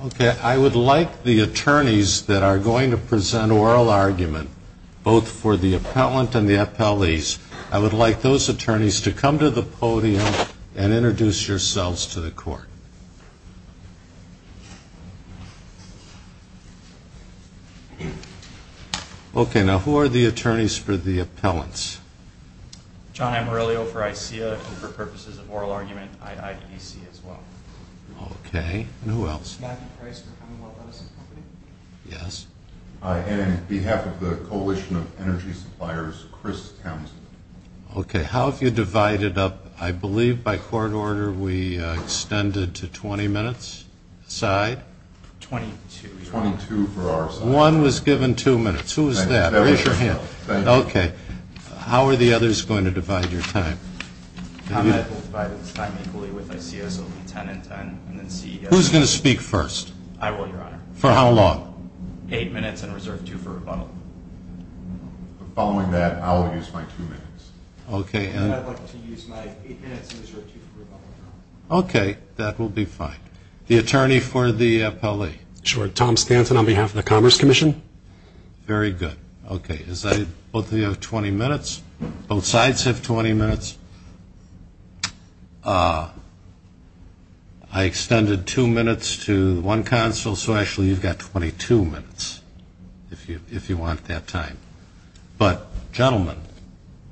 Okay, I would like the attorneys that are going to present oral argument, both for the appellant and the appellees, I would like those attorneys to come to the podium and Okay, now who are the attorneys for the appellants? John Amarillo for ICEA and for purposes of oral argument, IIDC as well. Okay, and who else? Matthew Price for Commonwealth Edison Company. Yes. Hi, and on behalf of the Coalition of Energy Suppliers, Chris Townsend. Okay, how have you divided up, I believe by court order we extended to 20 minutes aside? 22. 22 for our side. One was given two minutes, who was that? Raise your hand. Thank you. Okay, how are the others going to divide your time? I will divide this time equally with ICEA, so it will be 10 and 10. Who's going to speak first? I will, your honor. For how long? Eight minutes and reserve two for rebuttal. Following that, I will use my two minutes. Okay. And I'd like to use my eight minutes and reserve two for rebuttal. Okay, that will be fine. The attorney for the appellee. Sure, Tom Stanton on behalf of the Commerce Commission. Very good. Okay, both of you have 20 minutes. Both sides have 20 minutes. I extended two minutes to one counsel, so actually you've got 22 minutes if you want that time. But gentlemen,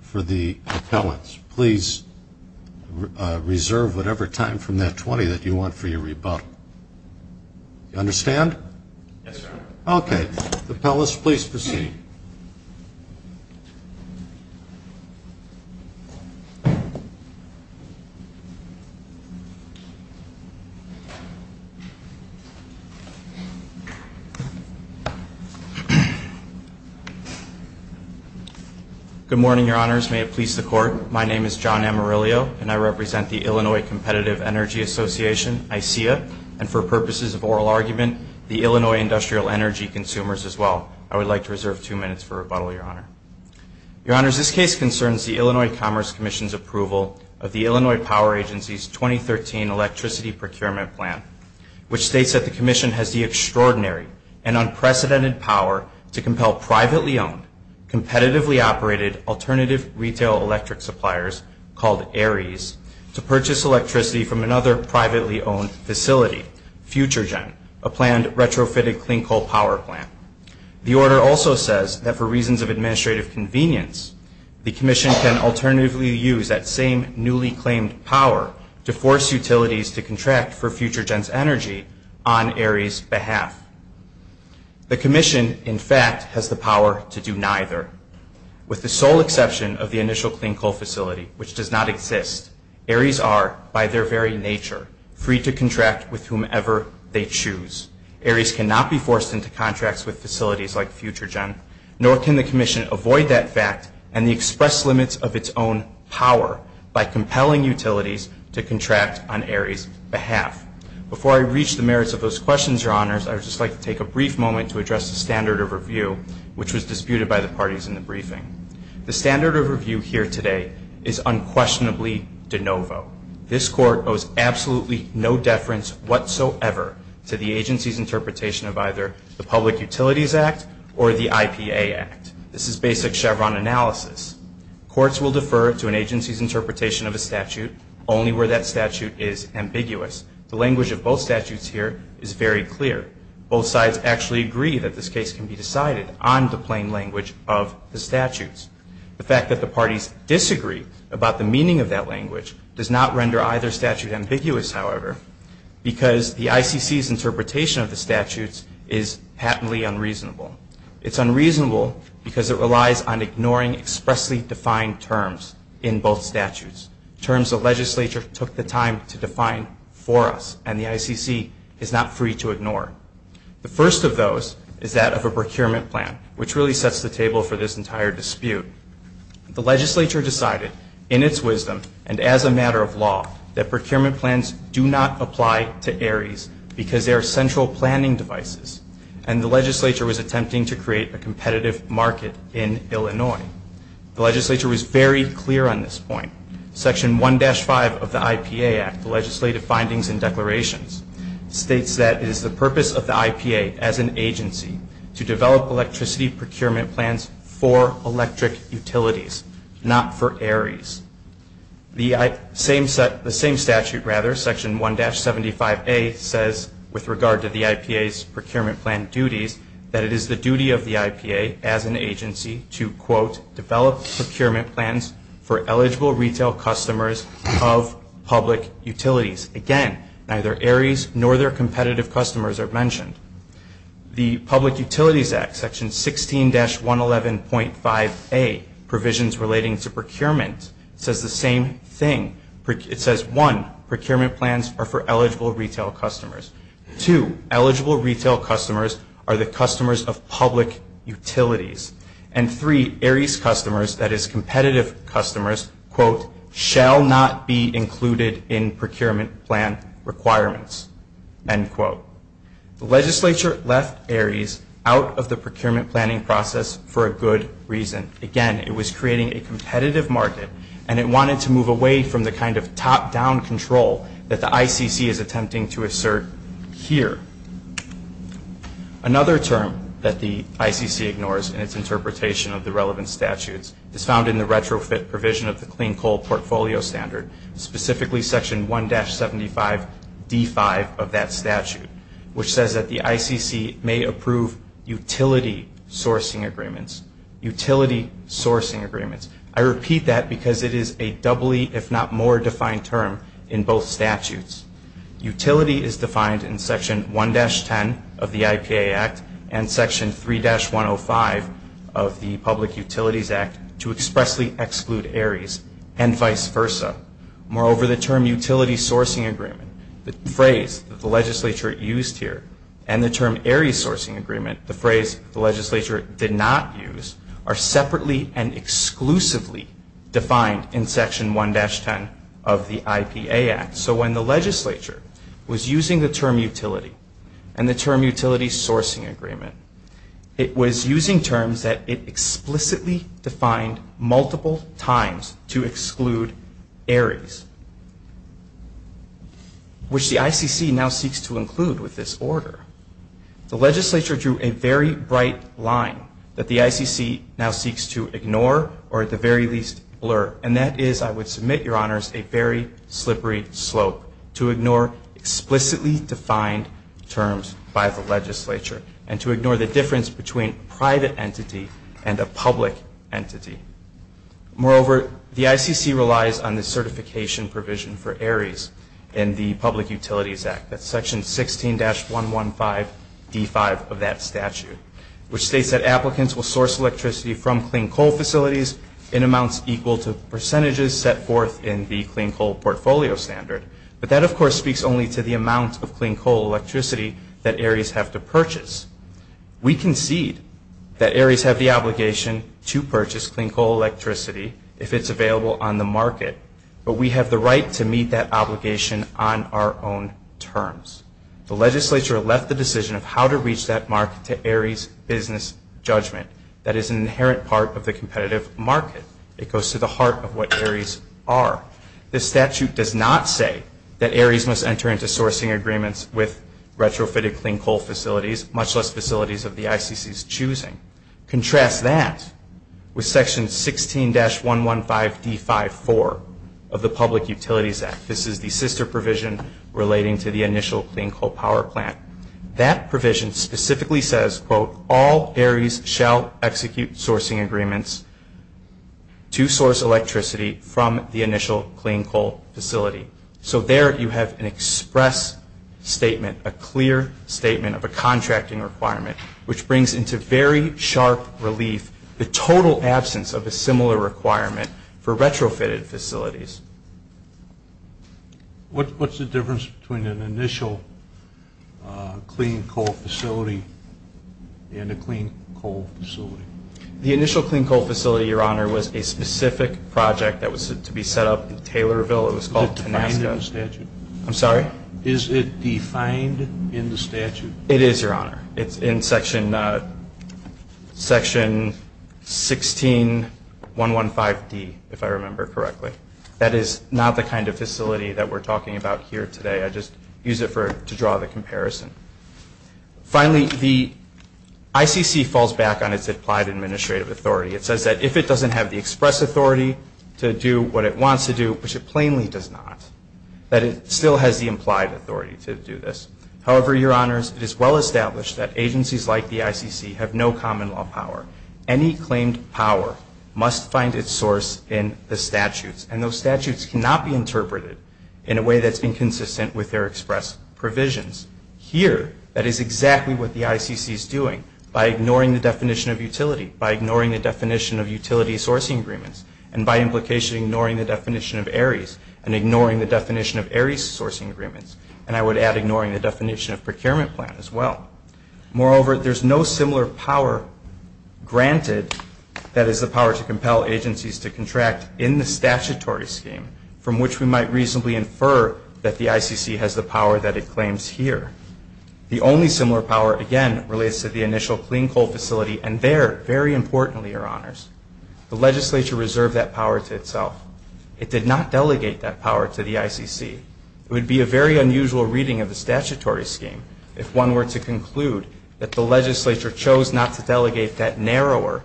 for the appellants, please reserve whatever time from that 20 that you want for your rebuttal. Do you understand? Yes, sir. Okay. Appellants, please proceed. Good morning, your honors. May it please the court, my name is John Amarillo, and I represent the Illinois Competitive Energy Association, ICEA, and for purposes of oral argument, the Illinois Industrial Energy Consumers as well. I would like to reserve two minutes for rebuttal, your honor. Your honors, this case concerns the Illinois Commerce Commission's approval of the Illinois Power Agency's 2013 Electricity Procurement Plan, which states that the commission has the extraordinary and unprecedented power to compel privately owned, competitively operated alternative retail electric suppliers called ARIES to purchase electricity from another privately owned facility, FutureGen, a planned retrofitted clean coal power plant. The order also says that for reasons of administrative convenience, the commission can alternatively use that same newly claimed power to force utilities to contract for FutureGen's energy on ARIES' behalf. The commission, in fact, has the power to do neither. With the sole exception of the initial clean coal facility, which does not exist, ARIES are, by their very nature, free to contract with whomever they choose. ARIES cannot be forced into contracts with facilities like FutureGen, nor can the commission avoid that fact and the express limits of its own power by compelling utilities to contract on ARIES' behalf. Before I reach the merits of those questions, Your Honors, I would just like to take a brief moment to address the standard of review, which was disputed by the parties in the briefing. The standard of review here today is unquestionably de novo. This court owes absolutely no deference whatsoever to the agency's interpretation of either the Public Utilities Act or the IPA Act. This is basic Chevron analysis. Courts will defer to an agency's interpretation of a statute only where that statute is ambiguous. The language of both statutes here is very clear. Both sides actually agree that this case can be decided on the plain language of the statutes. The fact that the parties disagree about the meaning of that language does not render either statute ambiguous, however, because the ICC's interpretation of the statutes is patently unreasonable. It's unreasonable because it relies on ignoring expressly defined terms in both statutes, terms the legislature took the time to define for us, and the ICC is not free to ignore. The first of those is that of a procurement plan, which really sets the table for this entire dispute. The legislature decided, in its wisdom and as a matter of law, that procurement plans do not apply to ARIES because they are central planning devices, and the legislature was attempting to create a competitive market in Illinois. The legislature was very clear on this point. Section 1-5 of the IPA Act, the Legislative Findings and Declarations, states that it is the purpose of the IPA as an agency to develop electricity procurement plans for electric utilities, not for ARIES. The same statute, rather, Section 1-75A, says, with regard to the IPA's procurement plan duties, that it is the duty of the IPA as an agency to, quote, develop procurement plans for eligible retail customers of public utilities. Again, neither ARIES nor their competitive customers are mentioned. The Public Utilities Act, Section 16-111.5A, Provisions Relating to Procurement, says the same thing. It says, one, procurement plans are for eligible retail customers. Two, eligible retail customers are the customers of public utilities. And three, ARIES customers, that is competitive customers, quote, shall not be included in procurement plan requirements, end quote. The legislature left ARIES out of the procurement planning process for a good reason. Again, it was creating a competitive market, and it wanted to move away from the kind of top-down control that the ICC is attempting to assert here. Another term that the ICC ignores in its interpretation of the relevant statutes is found in the retrofit provision of the Clean Coal Portfolio Standard, specifically Section 1-75D5 of that statute, which says that the ICC may approve utility sourcing agreements. Utility sourcing agreements. I repeat that because it is a doubly, if not more, defined term in both statutes. Utility is defined in Section 1-10 of the IPA Act and Section 3-105 of the Public Utilities Act to expressly exclude ARIES, and vice versa. Moreover, the term utility sourcing agreement, the phrase that the legislature used here, and the term ARIES sourcing agreement, the phrase the legislature did not use, are separately and exclusively defined in Section 1-10 of the IPA Act. So when the legislature was using the term utility and the term utility sourcing agreement, it was using terms that it explicitly defined multiple times to exclude ARIES, which the ICC now seeks to include with this order. The legislature drew a very bright line that the ICC now seeks to ignore or at the very least blur, and that is, I would submit, Your Honors, a very slippery slope, to ignore explicitly defined terms by the legislature and to ignore the difference between private entity and a public entity. Moreover, the ICC relies on the certification provision for ARIES in the Public Utilities Act. That's Section 16-115D5 of that statute, which states that applicants will source electricity from clean coal facilities in amounts equal to percentages set forth in the clean coal portfolio standard. But that, of course, speaks only to the amount of clean coal electricity that ARIES have to purchase. We concede that ARIES have the obligation to purchase clean coal electricity if it's available on the market, but we have the right to meet that obligation on our own terms. The legislature left the decision of how to reach that mark to ARIES' business judgment. That is an inherent part of the competitive market. It goes to the heart of what ARIES are. This statute does not say that ARIES must enter into sourcing agreements with retrofitted clean coal facilities, much less facilities of the ICC's choosing. Contrast that with Section 16-115D5-4 of the Public Utilities Act. This is the sister provision relating to the initial clean coal power plant. That provision specifically says, quote, all ARIES shall execute sourcing agreements to source electricity from the initial clean coal facility. So there you have an express statement, a clear statement of a contracting requirement, which brings into very sharp relief the total absence of a similar requirement for retrofitted facilities. What's the difference between an initial clean coal facility and a clean coal facility? The initial clean coal facility, Your Honor, was a specific project that was to be set up in Taylorville. It was called Tenaska. Is it defined in the statute? I'm sorry? Is it defined in the statute? It is, Your Honor. It's in Section 16-115D, if I remember correctly. That is not the kind of facility that we're talking about here today. I just use it to draw the comparison. Finally, the ICC falls back on its implied administrative authority. It says that if it doesn't have the express authority to do what it wants to do, which it plainly does not, that it still has the implied authority to do this. However, Your Honors, it is well established that agencies like the ICC have no common law power. Any claimed power must find its source in the statutes, and those statutes cannot be interpreted in a way that's inconsistent with their express provisions. Here, that is exactly what the ICC is doing by ignoring the definition of utility, by ignoring the definition of utility sourcing agreements, and by implication ignoring the definition of ARIES, and ignoring the definition of ARIES sourcing agreements. And I would add ignoring the definition of procurement plan as well. Moreover, there's no similar power granted that is the power to compel agencies to contract in the statutory scheme, from which we might reasonably infer that the ICC has the power that it claims here. The only similar power, again, relates to the initial clean coal facility, and there, very importantly, Your Honors, the legislature reserved that power to itself. It did not delegate that power to the ICC. It would be a very unusual reading of the statutory scheme if one were to conclude that the legislature chose not to delegate that narrower,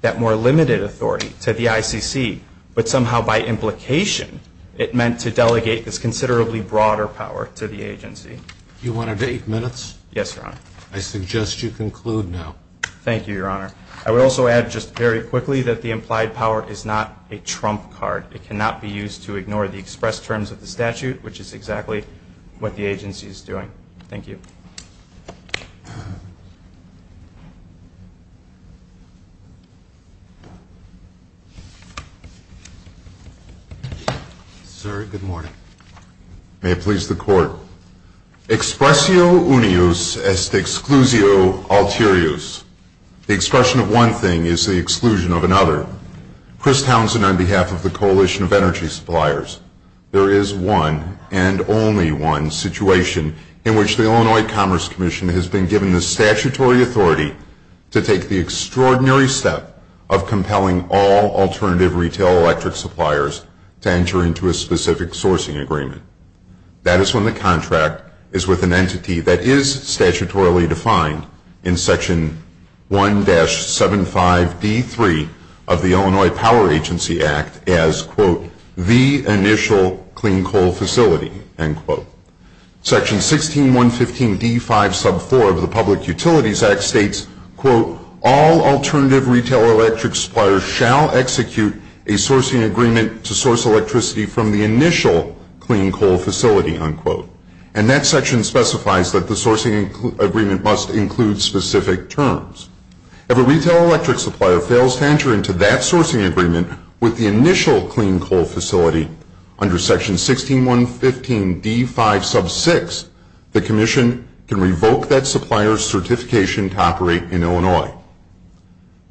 that more limited authority to the ICC, but somehow by implication it meant to delegate this considerably broader power to the agency. You wanted eight minutes? Yes, Your Honor. I suggest you conclude now. Thank you, Your Honor. I would also add just very quickly that the implied power is not a trump card. It cannot be used to ignore the express terms of the statute, which is exactly what the agency is doing. Thank you. Sir, good morning. May it please the Court. Expressio unius est exclusio alterius. The expression of one thing is the exclusion of another. Chris Townsend, on behalf of the Coalition of Energy Suppliers, there is one and only one situation in which the Illinois Commerce Commission has been given the statutory authority to take the extraordinary step of compelling all alternative retail electric suppliers to enter into a specific sourcing agreement. That is when the contract is with an entity that is statutorily defined in Section 1-75d3 of the Illinois Power Agency Act as, quote, the initial clean coal facility, end quote. Section 16-115d5 sub 4 of the Public Utilities Act states, quote, all alternative retail electric suppliers shall execute a sourcing agreement to source electricity and that section specifies that the sourcing agreement must include specific terms. If a retail electric supplier fails to enter into that sourcing agreement with the initial clean coal facility under Section 16-115d5 sub 6, the Commission can revoke that supplier's certification to operate in Illinois.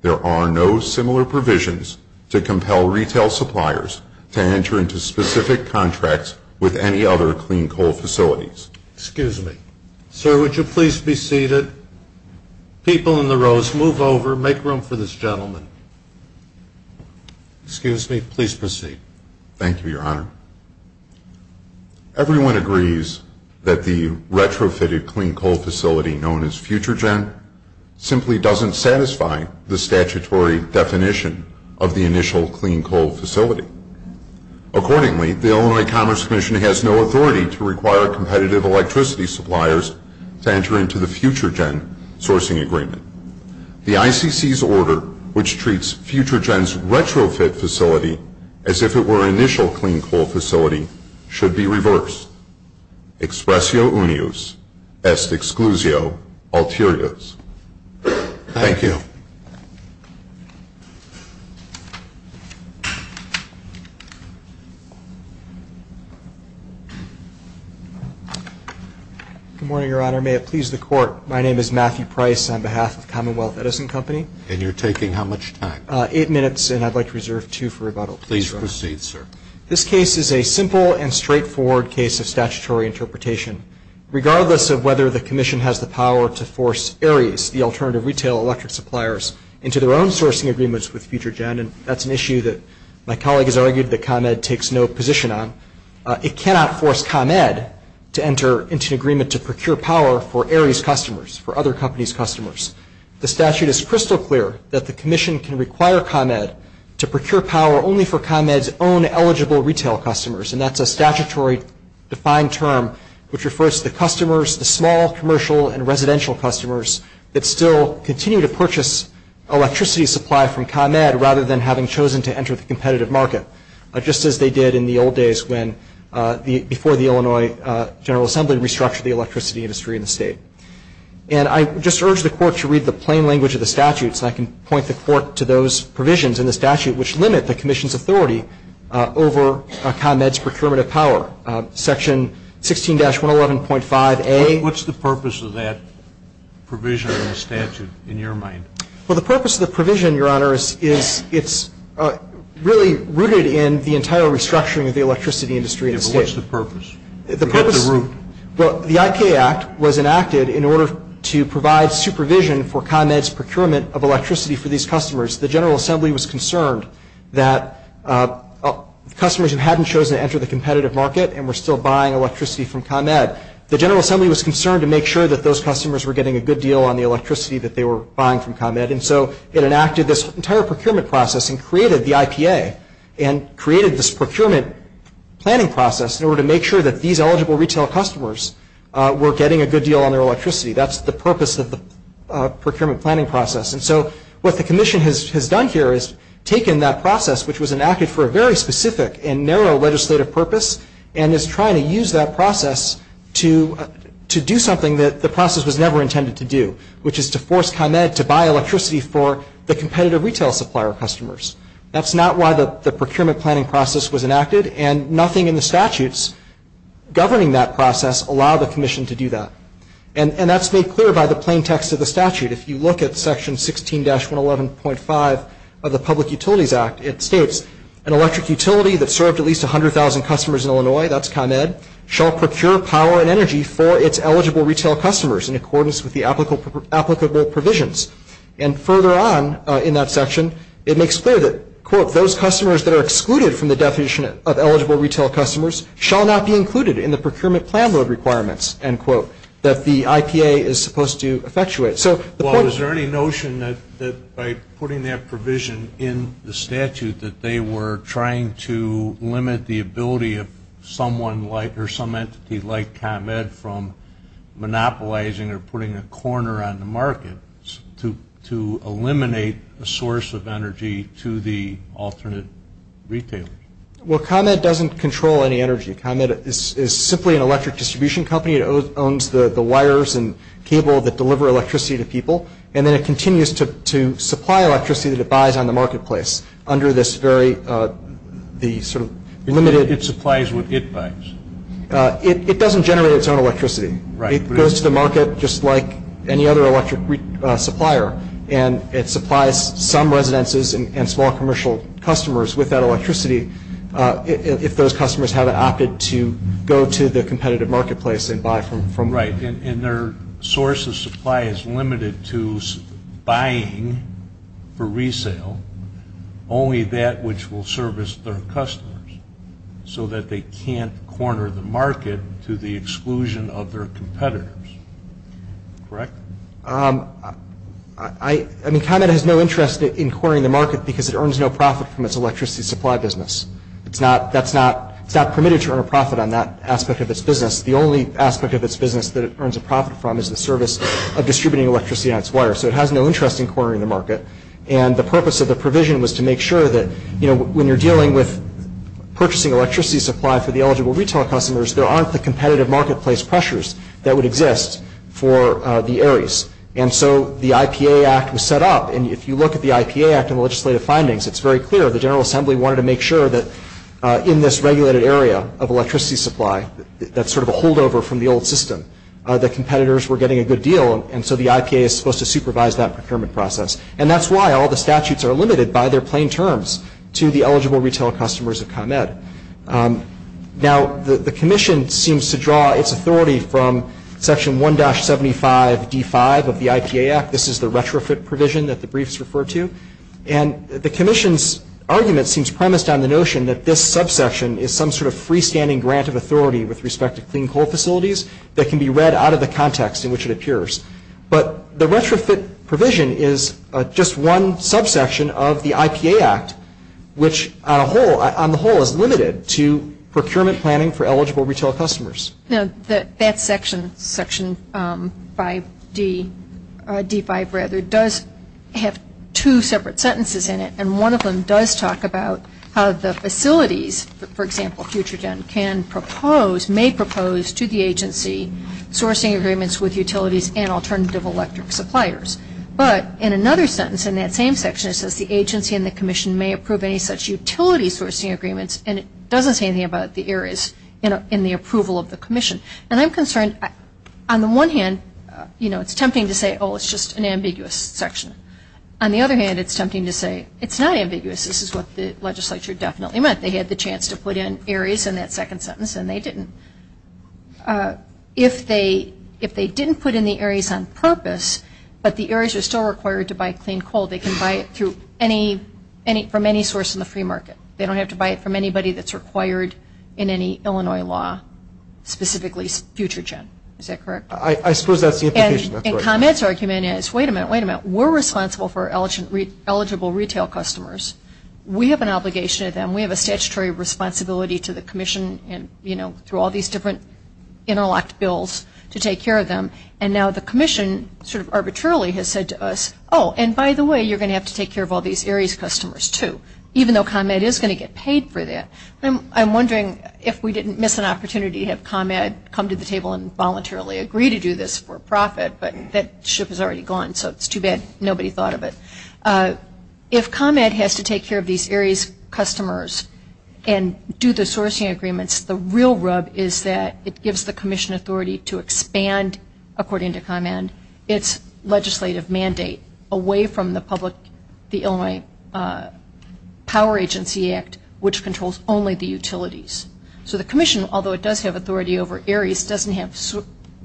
There are no similar provisions to compel retail suppliers to enter into specific contracts with any other clean coal facilities. Excuse me. Sir, would you please be seated? People in the rows, move over. Make room for this gentleman. Excuse me. Please proceed. Thank you, Your Honor. Everyone agrees that the retrofitted clean coal facility known as FutureGen simply doesn't satisfy the statutory definition of the initial clean coal facility. Accordingly, the Illinois Commerce Commission has no authority to require competitive electricity suppliers to enter into the FutureGen sourcing agreement. The ICC's order, which treats FutureGen's retrofit facility as if it were an initial clean coal facility, should be reversed. Expressio unius, est exclusio ulterioris. Thank you. Good morning, Your Honor. May it please the Court, my name is Matthew Price on behalf of Commonwealth Edison Company. And you're taking how much time? Eight minutes, and I'd like to reserve two for rebuttal. Please proceed, sir. This case is a simple and straightforward case of statutory interpretation. Regardless of whether the Commission has the power to force ARIES, the alternative retail electric suppliers, into their own sourcing agreements with FutureGen, and that's an issue that my colleague has argued that ComEd takes no position on, it cannot force ComEd to enter into an agreement to procure power for ARIES customers, for other companies' customers. The statute is crystal clear that the Commission can require ComEd to procure power only for ComEd's own eligible retail customers. And that's a statutory defined term which refers to the customers, the small commercial and residential customers, that still continue to purchase electricity supply from ComEd rather than having chosen to enter the competitive market, just as they did in the old days before the Illinois General Assembly restructured the electricity industry in the state. And I just urge the Court to read the plain language of the statute so I can point the Court to those provisions in the statute which limit the Commission's authority over ComEd's procurement of power. Section 16-111.5A. What's the purpose of that provision in the statute, in your mind? Well, the purpose of the provision, Your Honor, is it's really rooted in the entire restructuring of the electricity industry in the state. Yeah, but what's the purpose? What's the root? Well, the IK Act was enacted in order to provide supervision for ComEd's procurement of electricity for these customers. The General Assembly was concerned that customers who hadn't chosen to enter the competitive market and were still buying electricity from ComEd, the General Assembly was concerned to make sure that those customers were getting a good deal on the electricity that they were buying from ComEd. And so it enacted this entire procurement process and created the IPA and created this procurement planning process in order to make sure that these eligible retail customers were getting a good deal on their electricity. That's the purpose of the procurement planning process. And so what the Commission has done here is taken that process, which was enacted for a very specific and narrow legislative purpose, and is trying to use that process to do something that the process was never intended to do, which is to force ComEd to buy electricity for the competitive retail supplier customers. That's not why the procurement planning process was enacted, and nothing in the statutes governing that process allow the Commission to do that. And that's made clear by the plain text of the statute. If you look at Section 16-111.5 of the Public Utilities Act, it states, an electric utility that served at least 100,000 customers in Illinois, that's ComEd, shall procure power and energy for its eligible retail customers in accordance with the applicable provisions. And further on in that section, it makes clear that, quote, those customers that are excluded from the definition of eligible retail customers shall not be included in the procurement plan load requirements, end quote, that the IPA is supposed to effectuate. Well, is there any notion that by putting that provision in the statute that they were trying to limit the ability of someone like, or some entity like, ComEd from monopolizing or putting a corner on the market to eliminate a source of energy to the alternate retailers? Well, ComEd doesn't control any energy. ComEd is simply an electric distribution company. It owns the wires and cable that deliver electricity to people, and then it continues to supply electricity that it buys on the marketplace under this very, the sort of limited. It supplies what it buys. It doesn't generate its own electricity. Right. It goes to the market just like any other electric supplier, if those customers have opted to go to the competitive marketplace and buy from. Right. And their source of supply is limited to buying for resale only that which will service their customers so that they can't corner the market to the exclusion of their competitors. Correct? I mean, ComEd has no interest in corning the market because it earns no profit from its electricity supply business. It's not permitted to earn a profit on that aspect of its business. The only aspect of its business that it earns a profit from is the service of distributing electricity on its wire. So it has no interest in cornering the market. And the purpose of the provision was to make sure that, you know, when you're dealing with purchasing electricity supply for the eligible retail customers, there aren't the competitive marketplace pressures that would exist for the Ares. And so the IPA Act was set up. And if you look at the IPA Act and the legislative findings, it's very clear. The General Assembly wanted to make sure that in this regulated area of electricity supply, that's sort of a holdover from the old system, that competitors were getting a good deal. And so the IPA is supposed to supervise that procurement process. And that's why all the statutes are limited by their plain terms to the eligible retail customers of ComEd. Now, the commission seems to draw its authority from Section 1-75d5 of the IPA Act. This is the retrofit provision that the briefs refer to. And the commission's argument seems premised on the notion that this subsection is some sort of freestanding grant of authority with respect to clean coal facilities that can be read out of the context in which it appears. But the retrofit provision is just one subsection of the IPA Act, which on the whole is limited to procurement planning for eligible retail customers. Now, that section, Section 5d5, rather, does have two separate sentences in it. And one of them does talk about how the facilities, for example, FutureGen can propose, may propose to the agency, sourcing agreements with utilities and alternative electric suppliers. But in another sentence in that same section, it says the agency and the commission may approve any such utility sourcing agreements. And it doesn't say anything about the areas in the approval of the commission. And I'm concerned, on the one hand, you know, it's tempting to say, oh, it's just an ambiguous section. On the other hand, it's tempting to say it's not ambiguous. This is what the legislature definitely meant. They had the chance to put in areas in that second sentence, and they didn't. If they didn't put in the areas on purpose, but the areas are still required to buy clean coal, they can buy it from any source in the free market. They don't have to buy it from anybody that's required in any Illinois law, specifically FutureGen. Is that correct? I suppose that's the implication. And ComEd's argument is, wait a minute, wait a minute. We're responsible for eligible retail customers. We have an obligation to them. We have a statutory responsibility to the commission and, you know, through all these different interlocked bills to take care of them. And now the commission sort of arbitrarily has said to us, oh, and by the way, you're going to have to take care of all these areas' customers, too, even though ComEd is going to get paid for that. I'm wondering if we didn't miss an opportunity to have ComEd come to the table and voluntarily agree to do this for profit, but that ship is already gone, so it's too bad nobody thought of it. If ComEd has to take care of these areas' customers and do the sourcing agreements, the real rub is that it gives the commission authority to expand, according to ComEd, its legislative mandate away from the Illinois Power Agency Act, which controls only the utilities. So the commission, although it does have authority over areas, doesn't have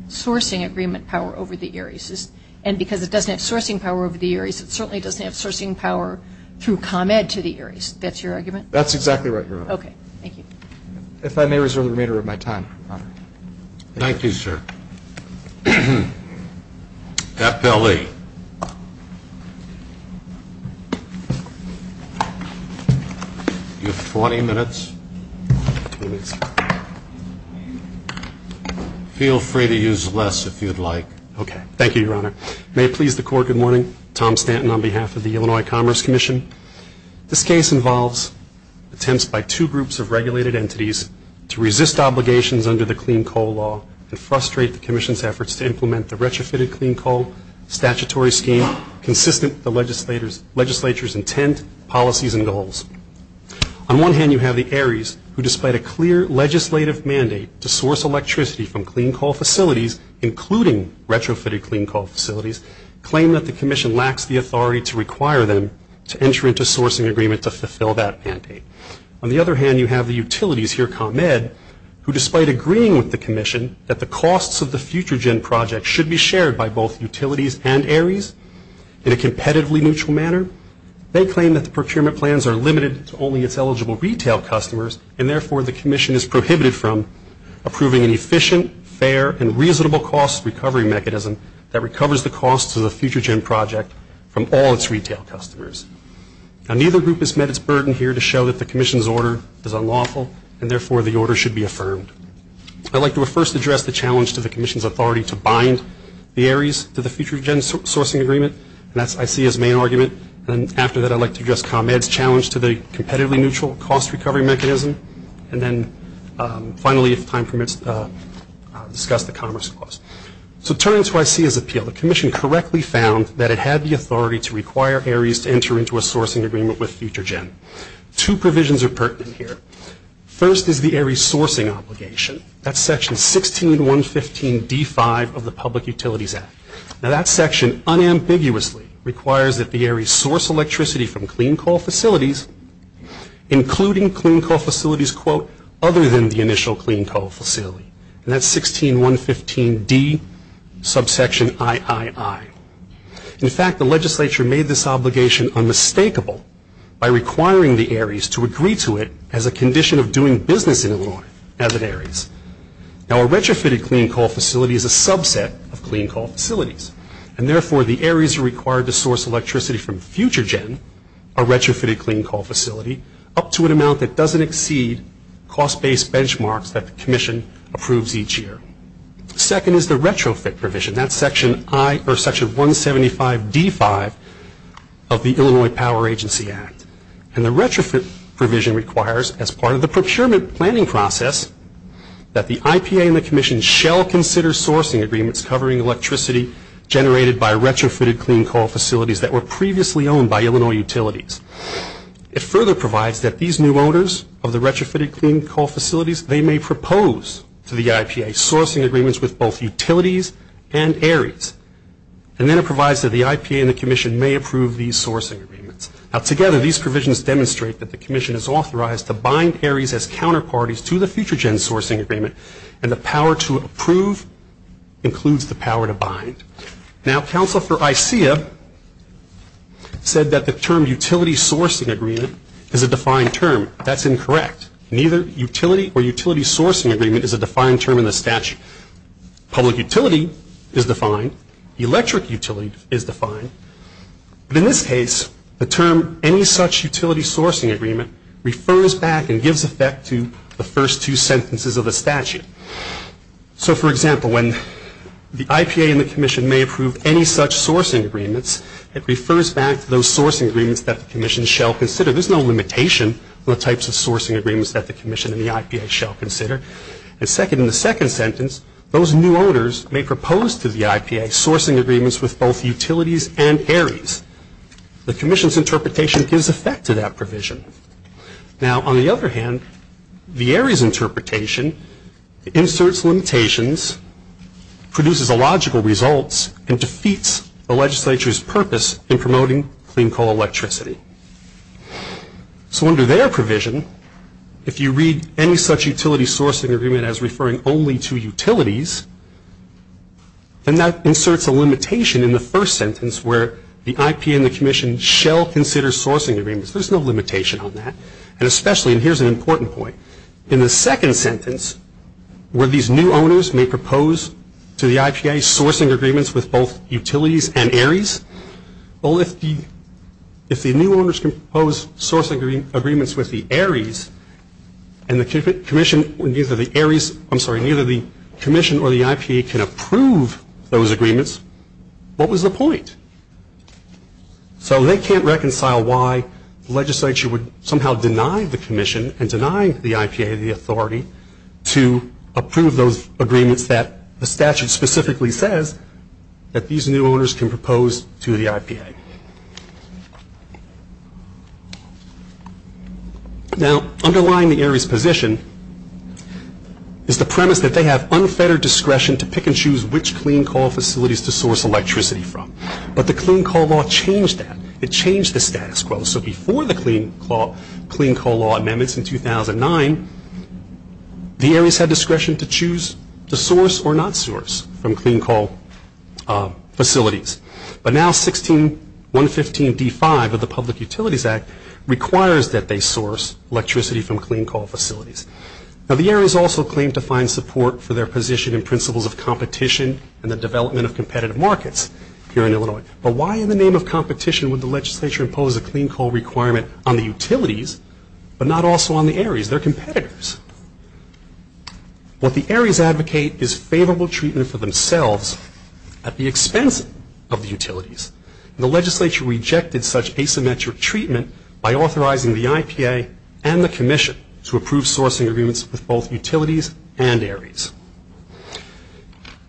sourcing agreement power over the areas. And because it doesn't have sourcing power over the areas, it certainly doesn't have sourcing power through ComEd to the areas. That's your argument? That's exactly right, Your Honor. Thank you. If I may reserve the remainder of my time, Your Honor. Thank you, sir. FLE. You have 20 minutes. Feel free to use less if you'd like. Okay. Thank you, Your Honor. May it please the Court, good morning. Tom Stanton on behalf of the Illinois Commerce Commission. This case involves attempts by two groups of regulated entities to resist obligations under the clean coal law and frustrate the commission's efforts to implement the retrofitted clean coal statutory scheme consistent with the legislature's intent, policies, and goals. On one hand, you have the Aries, who despite a clear legislative mandate to source electricity from clean coal facilities, including retrofitted clean coal facilities, claim that the commission lacks the authority to require them to enter into sourcing agreement to fulfill that mandate. On the other hand, you have the utilities here, ComEd, who despite agreeing with the commission that the costs of the FutureGen project should be shared by both utilities and Aries in a competitively neutral manner, they claim that the procurement plans are limited to only its eligible retail customers and, therefore, the commission is prohibited from approving an efficient, fair, and reasonable cost recovery mechanism that recovers the costs of the FutureGen project from all its retail customers. Now, neither group has met its burden here to show that the commission's order is unlawful and, therefore, the order should be affirmed. I'd like to first address the challenge to the commission's authority to bind the Aries to the FutureGen sourcing agreement, and that's ICA's main argument. And after that, I'd like to address ComEd's challenge to the competitively neutral cost recovery mechanism. And then, finally, if time permits, discuss the Commerce Clause. So turning to ICA's appeal, the commission correctly found that it had the authority to require Aries to enter into a sourcing agreement with FutureGen. Two provisions are pertinent here. First is the Aries sourcing obligation. That's section 16.115.D5 of the Public Utilities Act. Now, that section unambiguously requires that the Aries source electricity from clean coal facilities, including clean coal facilities, quote, other than the initial clean coal facility. And that's 16.115.D subsection III. In fact, the legislature made this obligation unmistakable by requiring the Aries to agree to it as a condition of doing business in Illinois as an Aries. Now, a retrofitted clean coal facility is a subset of clean coal facilities, and, therefore, the Aries are required to source electricity from FutureGen, a retrofitted clean coal facility, up to an amount that doesn't exceed cost-based benchmarks that the commission approves each year. Second is the retrofit provision. That's section 175.D5 of the Illinois Power Agency Act. And the retrofit provision requires, as part of the procurement planning process, that the IPA and the commission shall consider sourcing agreements covering electricity generated by retrofitted clean coal facilities that were previously owned by Illinois utilities. It further provides that these new owners of the retrofitted clean coal facilities, they may propose to the IPA sourcing agreements with both utilities and Aries. And then it provides that the IPA and the commission may approve these sourcing agreements. Now, together, these provisions demonstrate that the commission is authorized to bind Aries as counterparties to the FutureGen sourcing agreement, and the power to approve includes the power to bind. Now, counsel for ISEA said that the term utility sourcing agreement is a defined term. That's incorrect. Neither utility or utility sourcing agreement is a defined term in the statute. Public utility is defined. Electric utility is defined. But in this case, the term, any such utility sourcing agreement, refers back and gives effect to the first two sentences of the statute. So, for example, when the IPA and the commission may approve any such sourcing agreements, it refers back to those sourcing agreements that the commission shall consider. There's no limitation on the types of sourcing agreements that the commission and the IPA shall consider. And second, in the second sentence, those new owners may propose to the IPA sourcing agreements with both utilities and Aries. The commission's interpretation gives effect to that provision. Now, on the other hand, the Aries interpretation inserts limitations, produces illogical results, and defeats the legislature's purpose in promoting clean coal electricity. So under their provision, if you read any such utility sourcing agreement as referring only to utilities, then that inserts a limitation in the first sentence where the IPA and the commission shall consider sourcing agreements. There's no limitation on that. And especially, and here's an important point, in the second sentence, where these new owners may propose to the IPA sourcing agreements with both utilities and Aries, well, if the new owners can propose sourcing agreements with the Aries, and the commission or the IPA can approve those agreements, what was the point? So they can't reconcile why the legislature would somehow deny the commission and deny the IPA the authority to approve those agreements that the statute specifically says that these new owners can propose to the IPA. Now, underlying the Aries position is the premise that they have unfettered discretion to pick and choose which clean coal facilities to source electricity from. But the Clean Coal Law changed that. It changed the status quo. So before the Clean Coal Law amendments in 2009, the Aries had discretion to choose to source or not source from clean coal facilities. But now 16.115.D5 of the Public Utilities Act requires that they source electricity from clean coal facilities. Now, the Aries also claim to find support for their position in principles of competition and the development of competitive markets here in Illinois. But why in the name of competition would the legislature impose a clean coal requirement on the utilities but not also on the Aries? They're competitors. What the Aries advocate is favorable treatment for themselves at the expense of the utilities. And the legislature rejected such asymmetric treatment by authorizing the IPA and the commission to approve sourcing agreements with both utilities and Aries.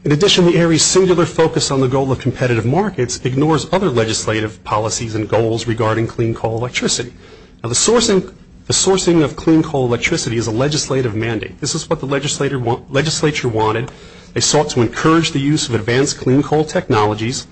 In addition, the Aries' singular focus on the goal of competitive markets ignores other legislative policies and goals regarding clean coal electricity. Now, the sourcing of clean coal electricity is a legislative mandate. This is what the legislature wanted. They sought to encourage the use of advanced clean coal technologies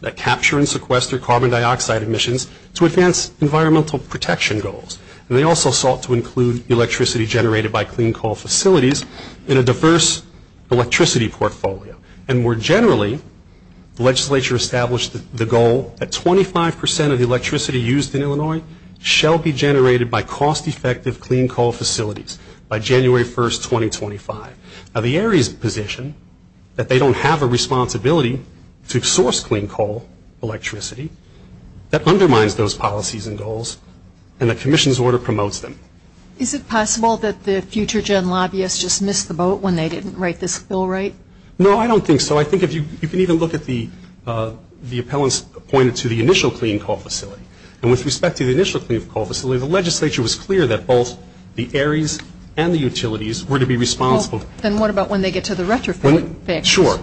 that capture and sequester carbon dioxide emissions to advance environmental protection goals. And they also sought to include electricity generated by clean coal facilities in a diverse electricity portfolio. And more generally, the legislature established the goal that 25 percent of the electricity used in Illinois shall be generated by cost-effective clean coal facilities by January 1, 2025. Now, the Aries position that they don't have a responsibility to source clean coal electricity, that undermines those policies and goals, and the commission's order promotes them. Is it possible that the future-gen lobbyists just missed the boat when they didn't write this bill right? No, I don't think so. I think if you can even look at the appellants appointed to the initial clean coal facility. And with respect to the initial clean coal facility, the legislature was clear that both the Aries and the utilities were to be responsible. Then what about when they get to the retrofit? Sure.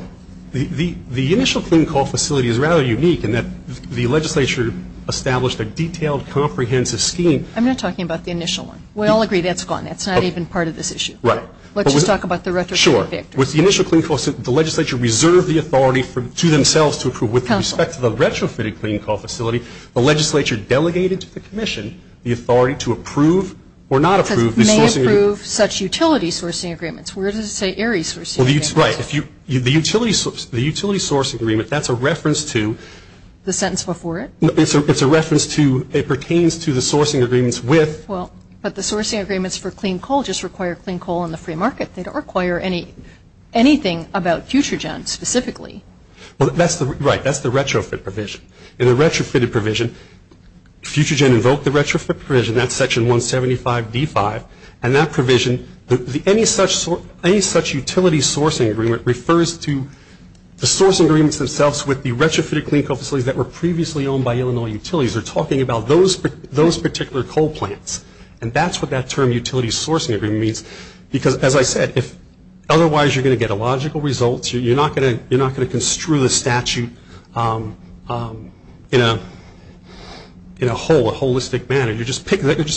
The initial clean coal facility is rather unique in that the legislature established a detailed comprehensive scheme. I'm not talking about the initial one. We all agree that's gone. That's not even part of this issue. Right. Let's just talk about the retrofit. Sure. With the initial clean coal facility, the legislature reserved the authority to themselves to approve with respect to the retrofitted clean coal facility. The legislature delegated to the commission the authority to approve or not approve the sourcing. May approve such utility sourcing agreements. Where does it say Aries sourcing agreements? Right. The utility sourcing agreement, that's a reference to? The sentence before it. It's a reference to, it pertains to the sourcing agreements with? Well, but the sourcing agreements for clean coal just require clean coal in the free market. They don't require anything about Futurgen specifically. Right. That's the retrofit provision. In the retrofitted provision, Futurgen invoked the retrofit provision. That's section 175D5. And that provision, any such utility sourcing agreement refers to the sourcing agreements themselves with the retrofitted clean coal facilities that were previously owned by Illinois utilities. They're talking about those particular coal plants. And that's what that term utility sourcing agreement means. Because, as I said, otherwise you're going to get illogical results. You're not going to construe the statute in a holistic manner. You're just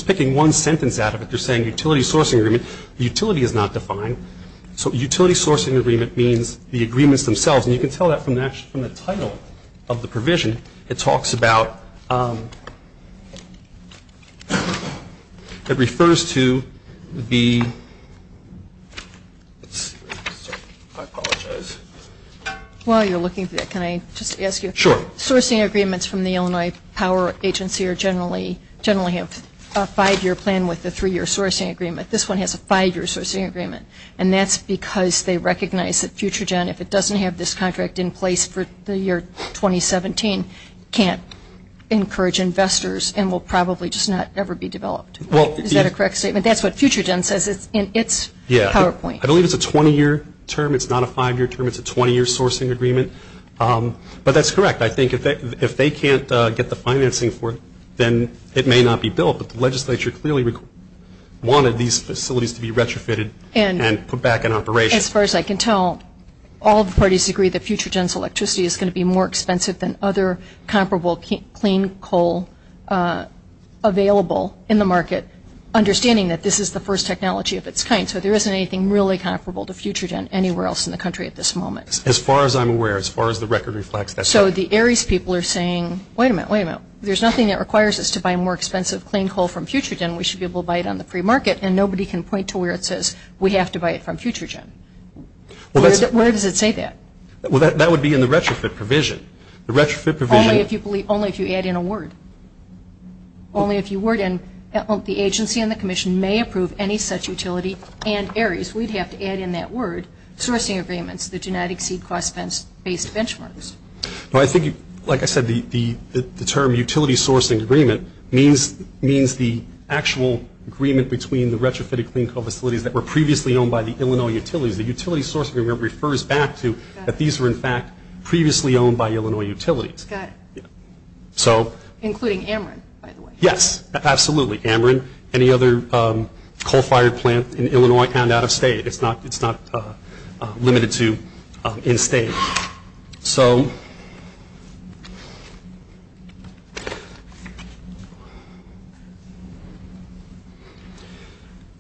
picking one sentence out of it. You're saying utility sourcing agreement. Utility is not defined. So utility sourcing agreement means the agreements themselves. And you can tell that from the title of the provision. It talks about, it refers to the, I apologize. While you're looking for that, can I just ask you? Sure. Sourcing agreements from the Illinois Power Agency generally have a five-year plan with a three-year sourcing agreement. This one has a five-year sourcing agreement. And that's because they recognize that Futurgen, if it doesn't have this contract in place for the year 2017, can't encourage investors and will probably just not ever be developed. Is that a correct statement? That's what Futurgen says in its PowerPoint. I believe it's a 20-year term. It's not a five-year term. It's a 20-year sourcing agreement. But that's correct. I think if they can't get the financing for it, then it may not be built. But the legislature clearly wanted these facilities to be retrofitted and put back in operation. As far as I can tell, all the parties agree that Futurgen's electricity is going to be more expensive than other comparable clean coal available in the market, understanding that this is the first technology of its kind. So there isn't anything really comparable to Futurgen anywhere else in the country at this moment. As far as I'm aware, as far as the record reflects, that's correct. So the ARIES people are saying, wait a minute, wait a minute, there's nothing that requires us to buy more expensive clean coal from Futurgen. We should be able to buy it on the free market. And nobody can point to where it says we have to buy it from Futurgen. Where does it say that? That would be in the retrofit provision. Only if you add in a word. Only if you word in the agency and the commission may approve any such utility and ARIES. We'd have to add in that word, sourcing agreements that do not exceed cost-based benchmarks. Well, I think, like I said, the term utility sourcing agreement means the actual agreement between the retrofitted clean coal facilities that were previously owned by the Illinois utilities. The utility sourcing agreement refers back to that these were, in fact, previously owned by Illinois utilities. Including Ameren, by the way. Yes, absolutely. Ameren, any other coal-fired plant in Illinois and out of state. It's not limited to in-state.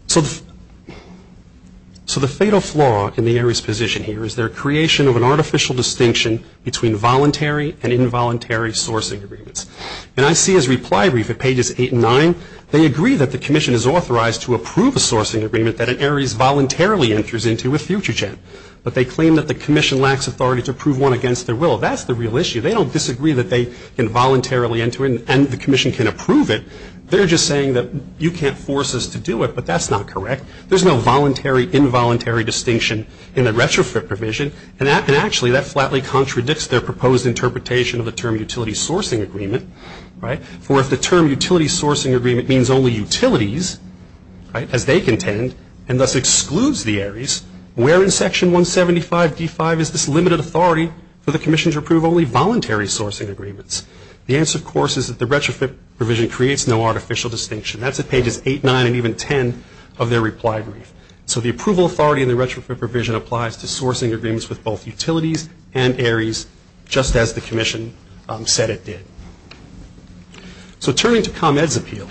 So the fatal flaw in the ARIES position here is their creation of an artificial distinction between voluntary and involuntary sourcing agreements. And I see his reply brief at pages 8 and 9. They agree that the commission is authorized to approve a sourcing agreement that an ARIES voluntarily enters into with Futurgen. But they claim that the commission lacks authority to approve one against their will. That's the real issue. They don't disagree that they can voluntarily enter it and the commission can approve it. They're just saying that you can't force us to do it, but that's not correct. There's no voluntary, involuntary distinction in the retrofit provision. And actually, that flatly contradicts their proposed interpretation of the term utility sourcing agreement. For if the term utility sourcing agreement means only utilities, as they contend, and thus excludes the ARIES, where in Section 175d5 is this limited authority for the commission to approve only voluntary sourcing agreements? The answer, of course, is that the retrofit provision creates no artificial distinction. That's at pages 8, 9, and even 10 of their reply brief. So the approval authority in the retrofit provision applies to sourcing agreements with both utilities and ARIES, just as the commission said it did. So turning to ComEd's appeal,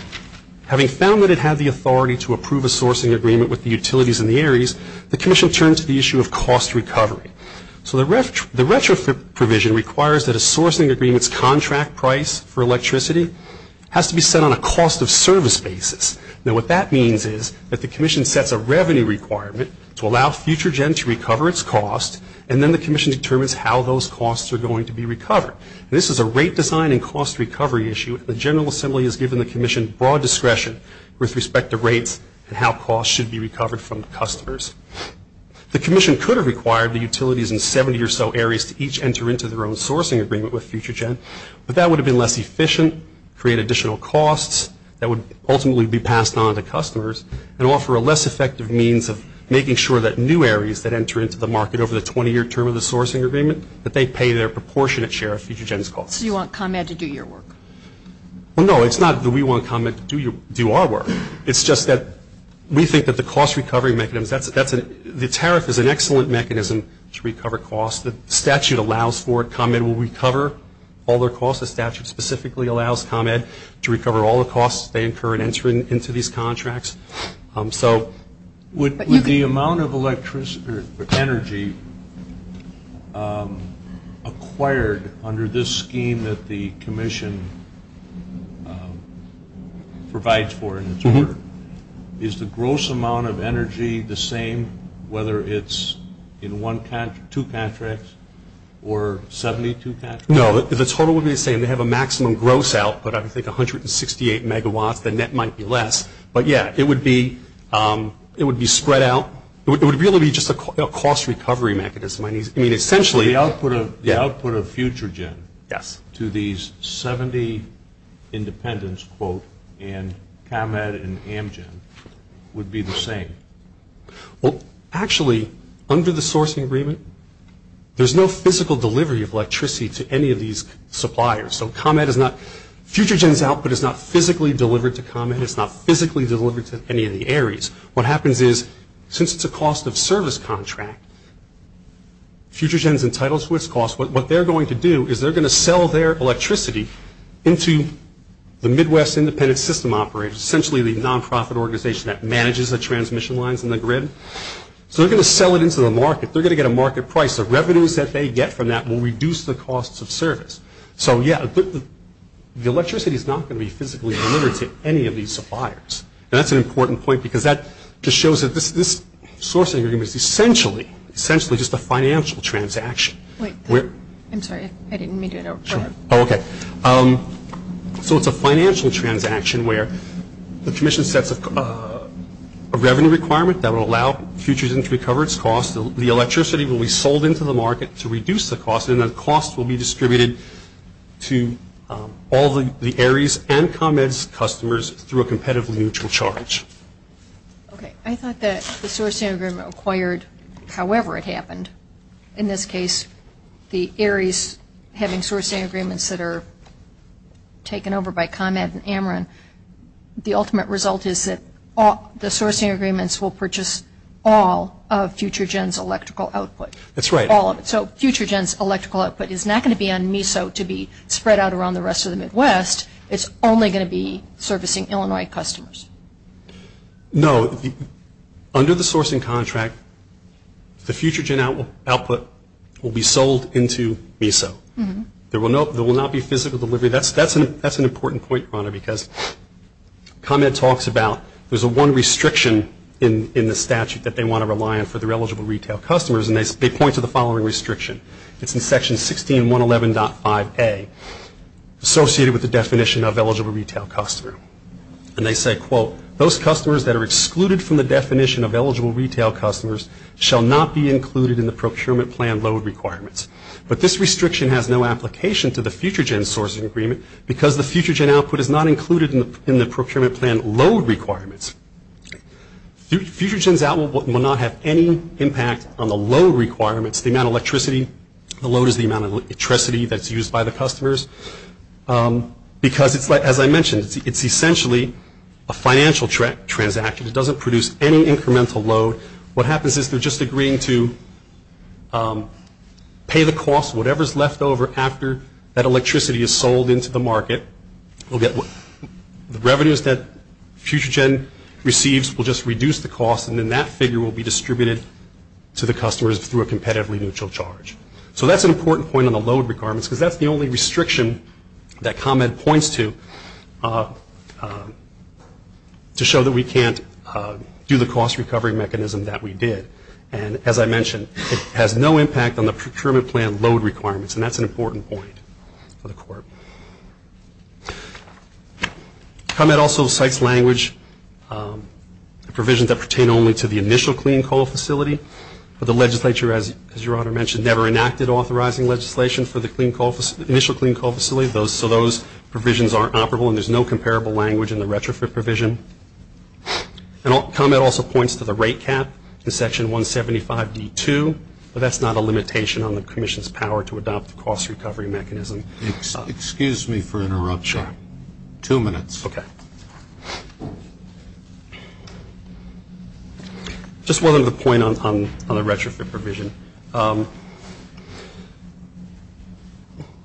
having found that it had the authority to approve a sourcing agreement with the utilities and the ARIES, the commission turned to the issue of cost recovery. So the retrofit provision requires that a sourcing agreement's contract price for electricity has to be set on a cost of service basis. Now, what that means is that the commission sets a revenue requirement to allow FutureGen to recover its cost, and then the commission determines how those costs are going to be recovered. This is a rate design and cost recovery issue, and the General Assembly has given the commission broad discretion with respect to rates and how costs should be recovered from customers. The commission could have required the utilities in 70 or so ARIES to each enter into their own sourcing agreement with FutureGen, but that would have been less efficient, create additional costs, that would ultimately be passed on to customers, and offer a less effective means of making sure that new ARIES that enter into the market over the 20-year term of the sourcing agreement, that they pay their proportionate share of FutureGen's costs. So you want ComEd to do your work? Well, no, it's not that we want ComEd to do our work. It's just that we think that the cost recovery mechanism, the tariff is an excellent mechanism to recover costs. The statute allows for it. ComEd will recover all their costs. The statute specifically allows ComEd to recover all the costs they incur in entering into these contracts. So would the amount of energy acquired under this scheme that the commission provides for in its work, is the gross amount of energy the same whether it's in two contracts or 72 contracts? No, the total would be the same. They have a maximum gross output of, I think, 168 megawatts. The net might be less. But, yeah, it would be spread out. It would really be just a cost recovery mechanism. I mean, essentially the output of FutureGen to these 70 independents, quote, and ComEd and Amgen would be the same. Well, actually, under the sourcing agreement, there's no physical delivery of electricity to any of these suppliers. So FutureGen's output is not physically delivered to ComEd. It's not physically delivered to any of the Ares. What happens is since it's a cost of service contract, FutureGen's entitled to its cost. What they're going to do is they're going to sell their electricity into the Midwest Independent System Operator, which is essentially the nonprofit organization that manages the transmission lines and the grid. So they're going to sell it into the market. They're going to get a market price. The revenues that they get from that will reduce the costs of service. So, yeah, the electricity is not going to be physically delivered to any of these suppliers. And that's an important point because that just shows that this sourcing agreement is essentially just a financial transaction. Wait. I'm sorry. I didn't mean to interrupt. Sure. Oh, okay. So it's a financial transaction where the commission sets a revenue requirement that will allow FutureGen to recover its cost. The electricity will be sold into the market to reduce the cost, and the cost will be distributed to all the Ares and ComEd's customers through a competitively neutral charge. Okay. I thought that the sourcing agreement acquired however it happened. In this case, the Ares having sourcing agreements that are taken over by ComEd and Ameren, the ultimate result is that the sourcing agreements will purchase all of FutureGen's electrical output. That's right. All of it. So FutureGen's electrical output is not going to be on MESO to be spread out around the rest of the Midwest. It's only going to be servicing Illinois customers. No. Under the sourcing contract, the FutureGen output will be sold into MESO. There will not be physical delivery. That's an important point, Your Honor, because ComEd talks about there's a one restriction in the statute that they want to rely on for their eligible retail customers, and they point to the following restriction. It's in Section 16111.5A, associated with the definition of eligible retail customer. And they say, quote, those customers that are excluded from the definition of eligible retail customers shall not be included in the procurement plan load requirements. But this restriction has no application to the FutureGen sourcing agreement because the FutureGen output is not included in the procurement plan load requirements. FutureGen's output will not have any impact on the load requirements. The amount of electricity, the load is the amount of electricity that's used by the customers. Because, as I mentioned, it's essentially a financial transaction. It doesn't produce any incremental load. What happens is they're just agreeing to pay the cost, whatever's left over, after that electricity is sold into the market. The revenues that FutureGen receives will just reduce the cost, and then that figure will be distributed to the customers through a competitively neutral charge. So that's an important point on the load requirements, because that's the only restriction that ComEd points to, to show that we can't do the cost recovery mechanism that we did. And, as I mentioned, it has no impact on the procurement plan load requirements, and that's an important point for the Court. ComEd also cites language provisions that pertain only to the initial clean coal facility. But the legislature, as your Honor mentioned, never enacted authorizing legislation for the initial clean coal facility, so those provisions aren't operable, and there's no comparable language in the retrofit provision. And ComEd also points to the rate cap in Section 175D2, but that's not a limitation on the Commission's power to adopt the cost recovery mechanism. Excuse me for interrupting. Sure. Two minutes. Okay. Just one other point on the retrofit provision.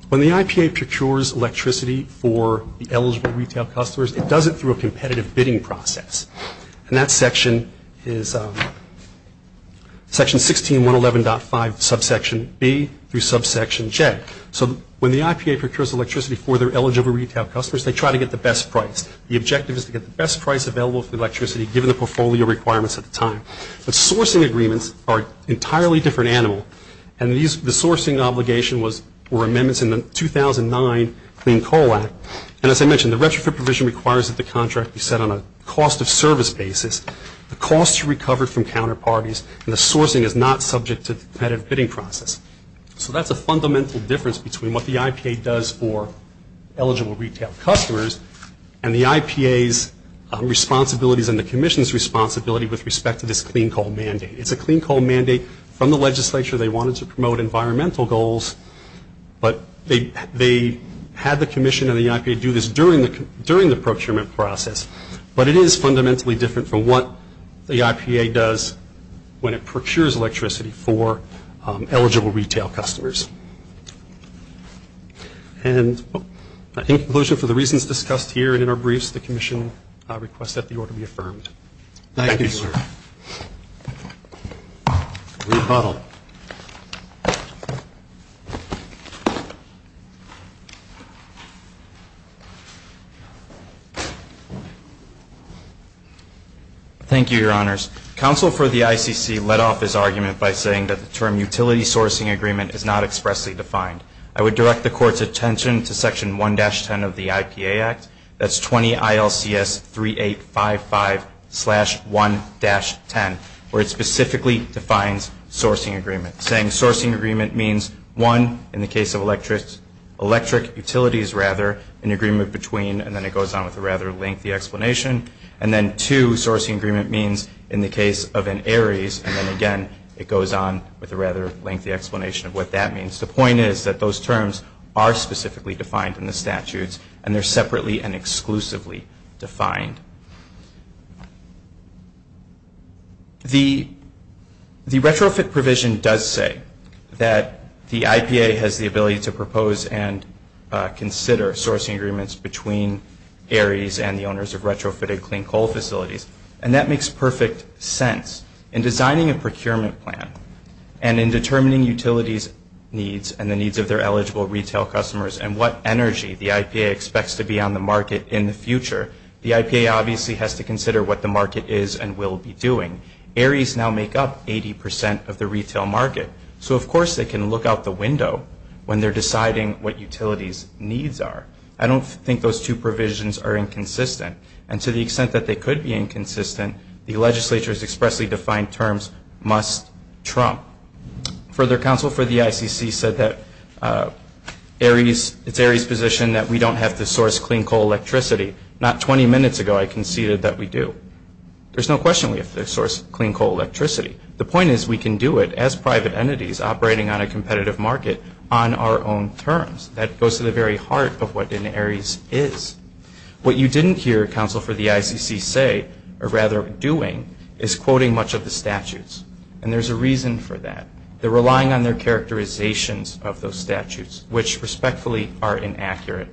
When the IPA procures electricity for the eligible retail customers, it does it through a competitive bidding process, and that section is Section 1611.5, subsection B, through subsection J. So when the IPA procures electricity for their eligible retail customers, they try to get the best price. The objective is to get the best price available for electricity, given the portfolio requirements at the time. But sourcing agreements are an entirely different animal, and the sourcing obligation were amendments in the 2009 Clean Coal Act. And as I mentioned, the retrofit provision requires that the contract be set on a cost of service basis. The cost is recovered from counterparties, and the sourcing is not subject to the competitive bidding process. So that's a fundamental difference between what the IPA does for eligible retail customers and the IPA's responsibilities and the commission's responsibility with respect to this clean coal mandate. It's a clean coal mandate from the legislature. They wanted to promote environmental goals, but they had the commission and the IPA do this during the procurement process. But it is fundamentally different from what the IPA does when it procures electricity for eligible retail customers. And in conclusion, for the reasons discussed here and in our briefs, the commission requests that the order be affirmed. Thank you, sir. Rebuttal. Thank you, Your Honors. Counsel for the ICC let off his argument by saying that the term utility sourcing agreement is not explicit. It's not expressly defined. I would direct the Court's attention to Section 1-10 of the IPA Act. That's 20 ILCS 3855-1-10, where it specifically defines sourcing agreement, saying sourcing agreement means, one, in the case of electric utilities, rather, an agreement between, and then it goes on with a rather lengthy explanation. And then, two, sourcing agreement means, in the case of an ARES, and then, again, it goes on with a rather lengthy explanation of what that means. The point is that those terms are specifically defined in the statutes, and they're separately and exclusively defined. The retrofit provision does say that the IPA has the ability to propose and consider sourcing agreements between ARES and the owners of retrofitted clean coal facilities, and that makes perfect sense. In designing a procurement plan and in determining utilities' needs and the needs of their eligible retail customers and what energy the IPA expects to be on the market in the future, the IPA obviously has to consider what the market is and will be doing. ARES now make up 80 percent of the retail market. So, of course, they can look out the window when they're deciding what utilities' needs are. I don't think those two provisions are inconsistent. And to the extent that they could be inconsistent, the legislature's expressly defined terms must trump. Further, counsel for the ICC said that it's ARES' position that we don't have to source clean coal electricity. Not 20 minutes ago, I conceded that we do. There's no question we have to source clean coal electricity. The point is we can do it as private entities operating on a competitive market on our own terms. That goes to the very heart of what an ARES is. What you didn't hear counsel for the ICC say, or rather doing, is quoting much of the statutes. And there's a reason for that. They're relying on their characterizations of those statutes, which respectfully are inaccurate.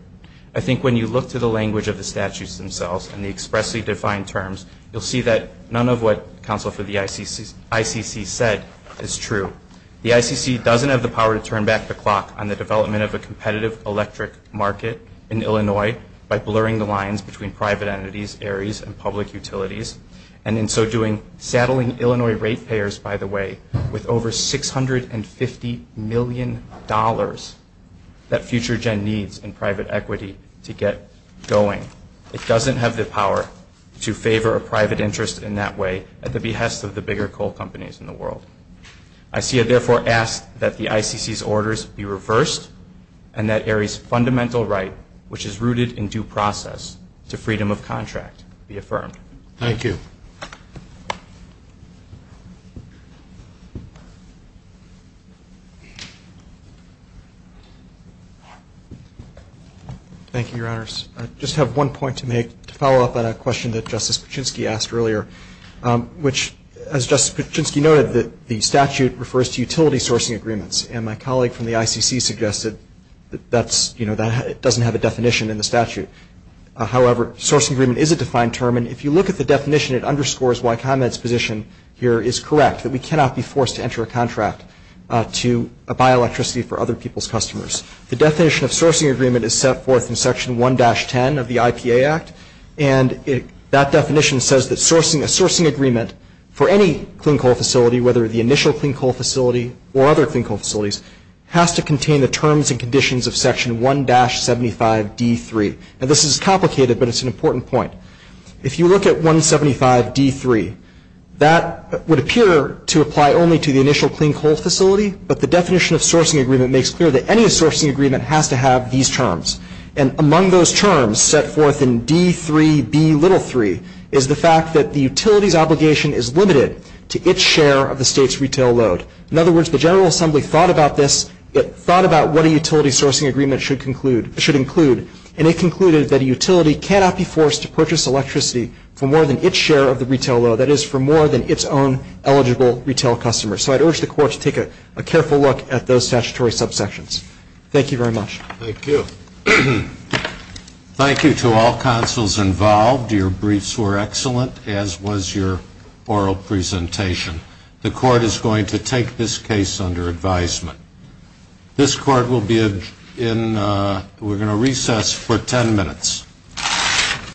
I think when you look to the language of the statutes themselves and the expressly defined terms, you'll see that none of what counsel for the ICC said is true. The ICC doesn't have the power to turn back the clock on the development of a competitive electric market in Illinois by blurring the lines between private entities, ARES, and public utilities, and in so doing, saddling Illinois rate payers, by the way, with over $650 million that FutureGen needs in private equity to get going. It doesn't have the power to favor a private interest in that way at the behest of the bigger coal companies in the world. I see it therefore asked that the ICC's orders be reversed, and that ARES' fundamental right, which is rooted in due process, to freedom of contract, be affirmed. Thank you. Thank you, Your Honors. I just have one point to make to follow up on a question that Justice Kuczynski asked earlier, which, as Justice Kuczynski noted, the statute refers to utility sourcing agreements. And my colleague from the ICC suggested that it doesn't have a definition in the statute. However, sourcing agreement is a defined term, and if you look at the definition it underscores why ComEd's position here is correct, that we cannot be forced to enter a contract to buy electricity for other people's customers. The definition of sourcing agreement is set forth in Section 1-10 of the IPA Act, and that definition says that a sourcing agreement for any clean coal facility, whether the initial clean coal facility or other clean coal facilities, has to contain the terms and conditions of Section 1-75D3. Now, this is complicated, but it's an important point. If you look at 175D3, that would appear to apply only to the initial clean coal facility, but the definition of sourcing agreement makes clear that any sourcing agreement has to have these terms. And among those terms set forth in D3B3 is the fact that the utility's obligation is limited to its share of the state's retail load. In other words, the General Assembly thought about this, it thought about what a utility sourcing agreement should include, and it concluded that a utility cannot be forced to purchase electricity for more than its share of the retail load, that is, for more than its own eligible retail customers. So I'd urge the Court to take a careful look at those statutory subsections. Thank you very much. Thank you. Thank you to all counsels involved. Your briefs were excellent, as was your oral presentation. The Court is going to take this case under advisement. This Court will be in recess for 10 minutes.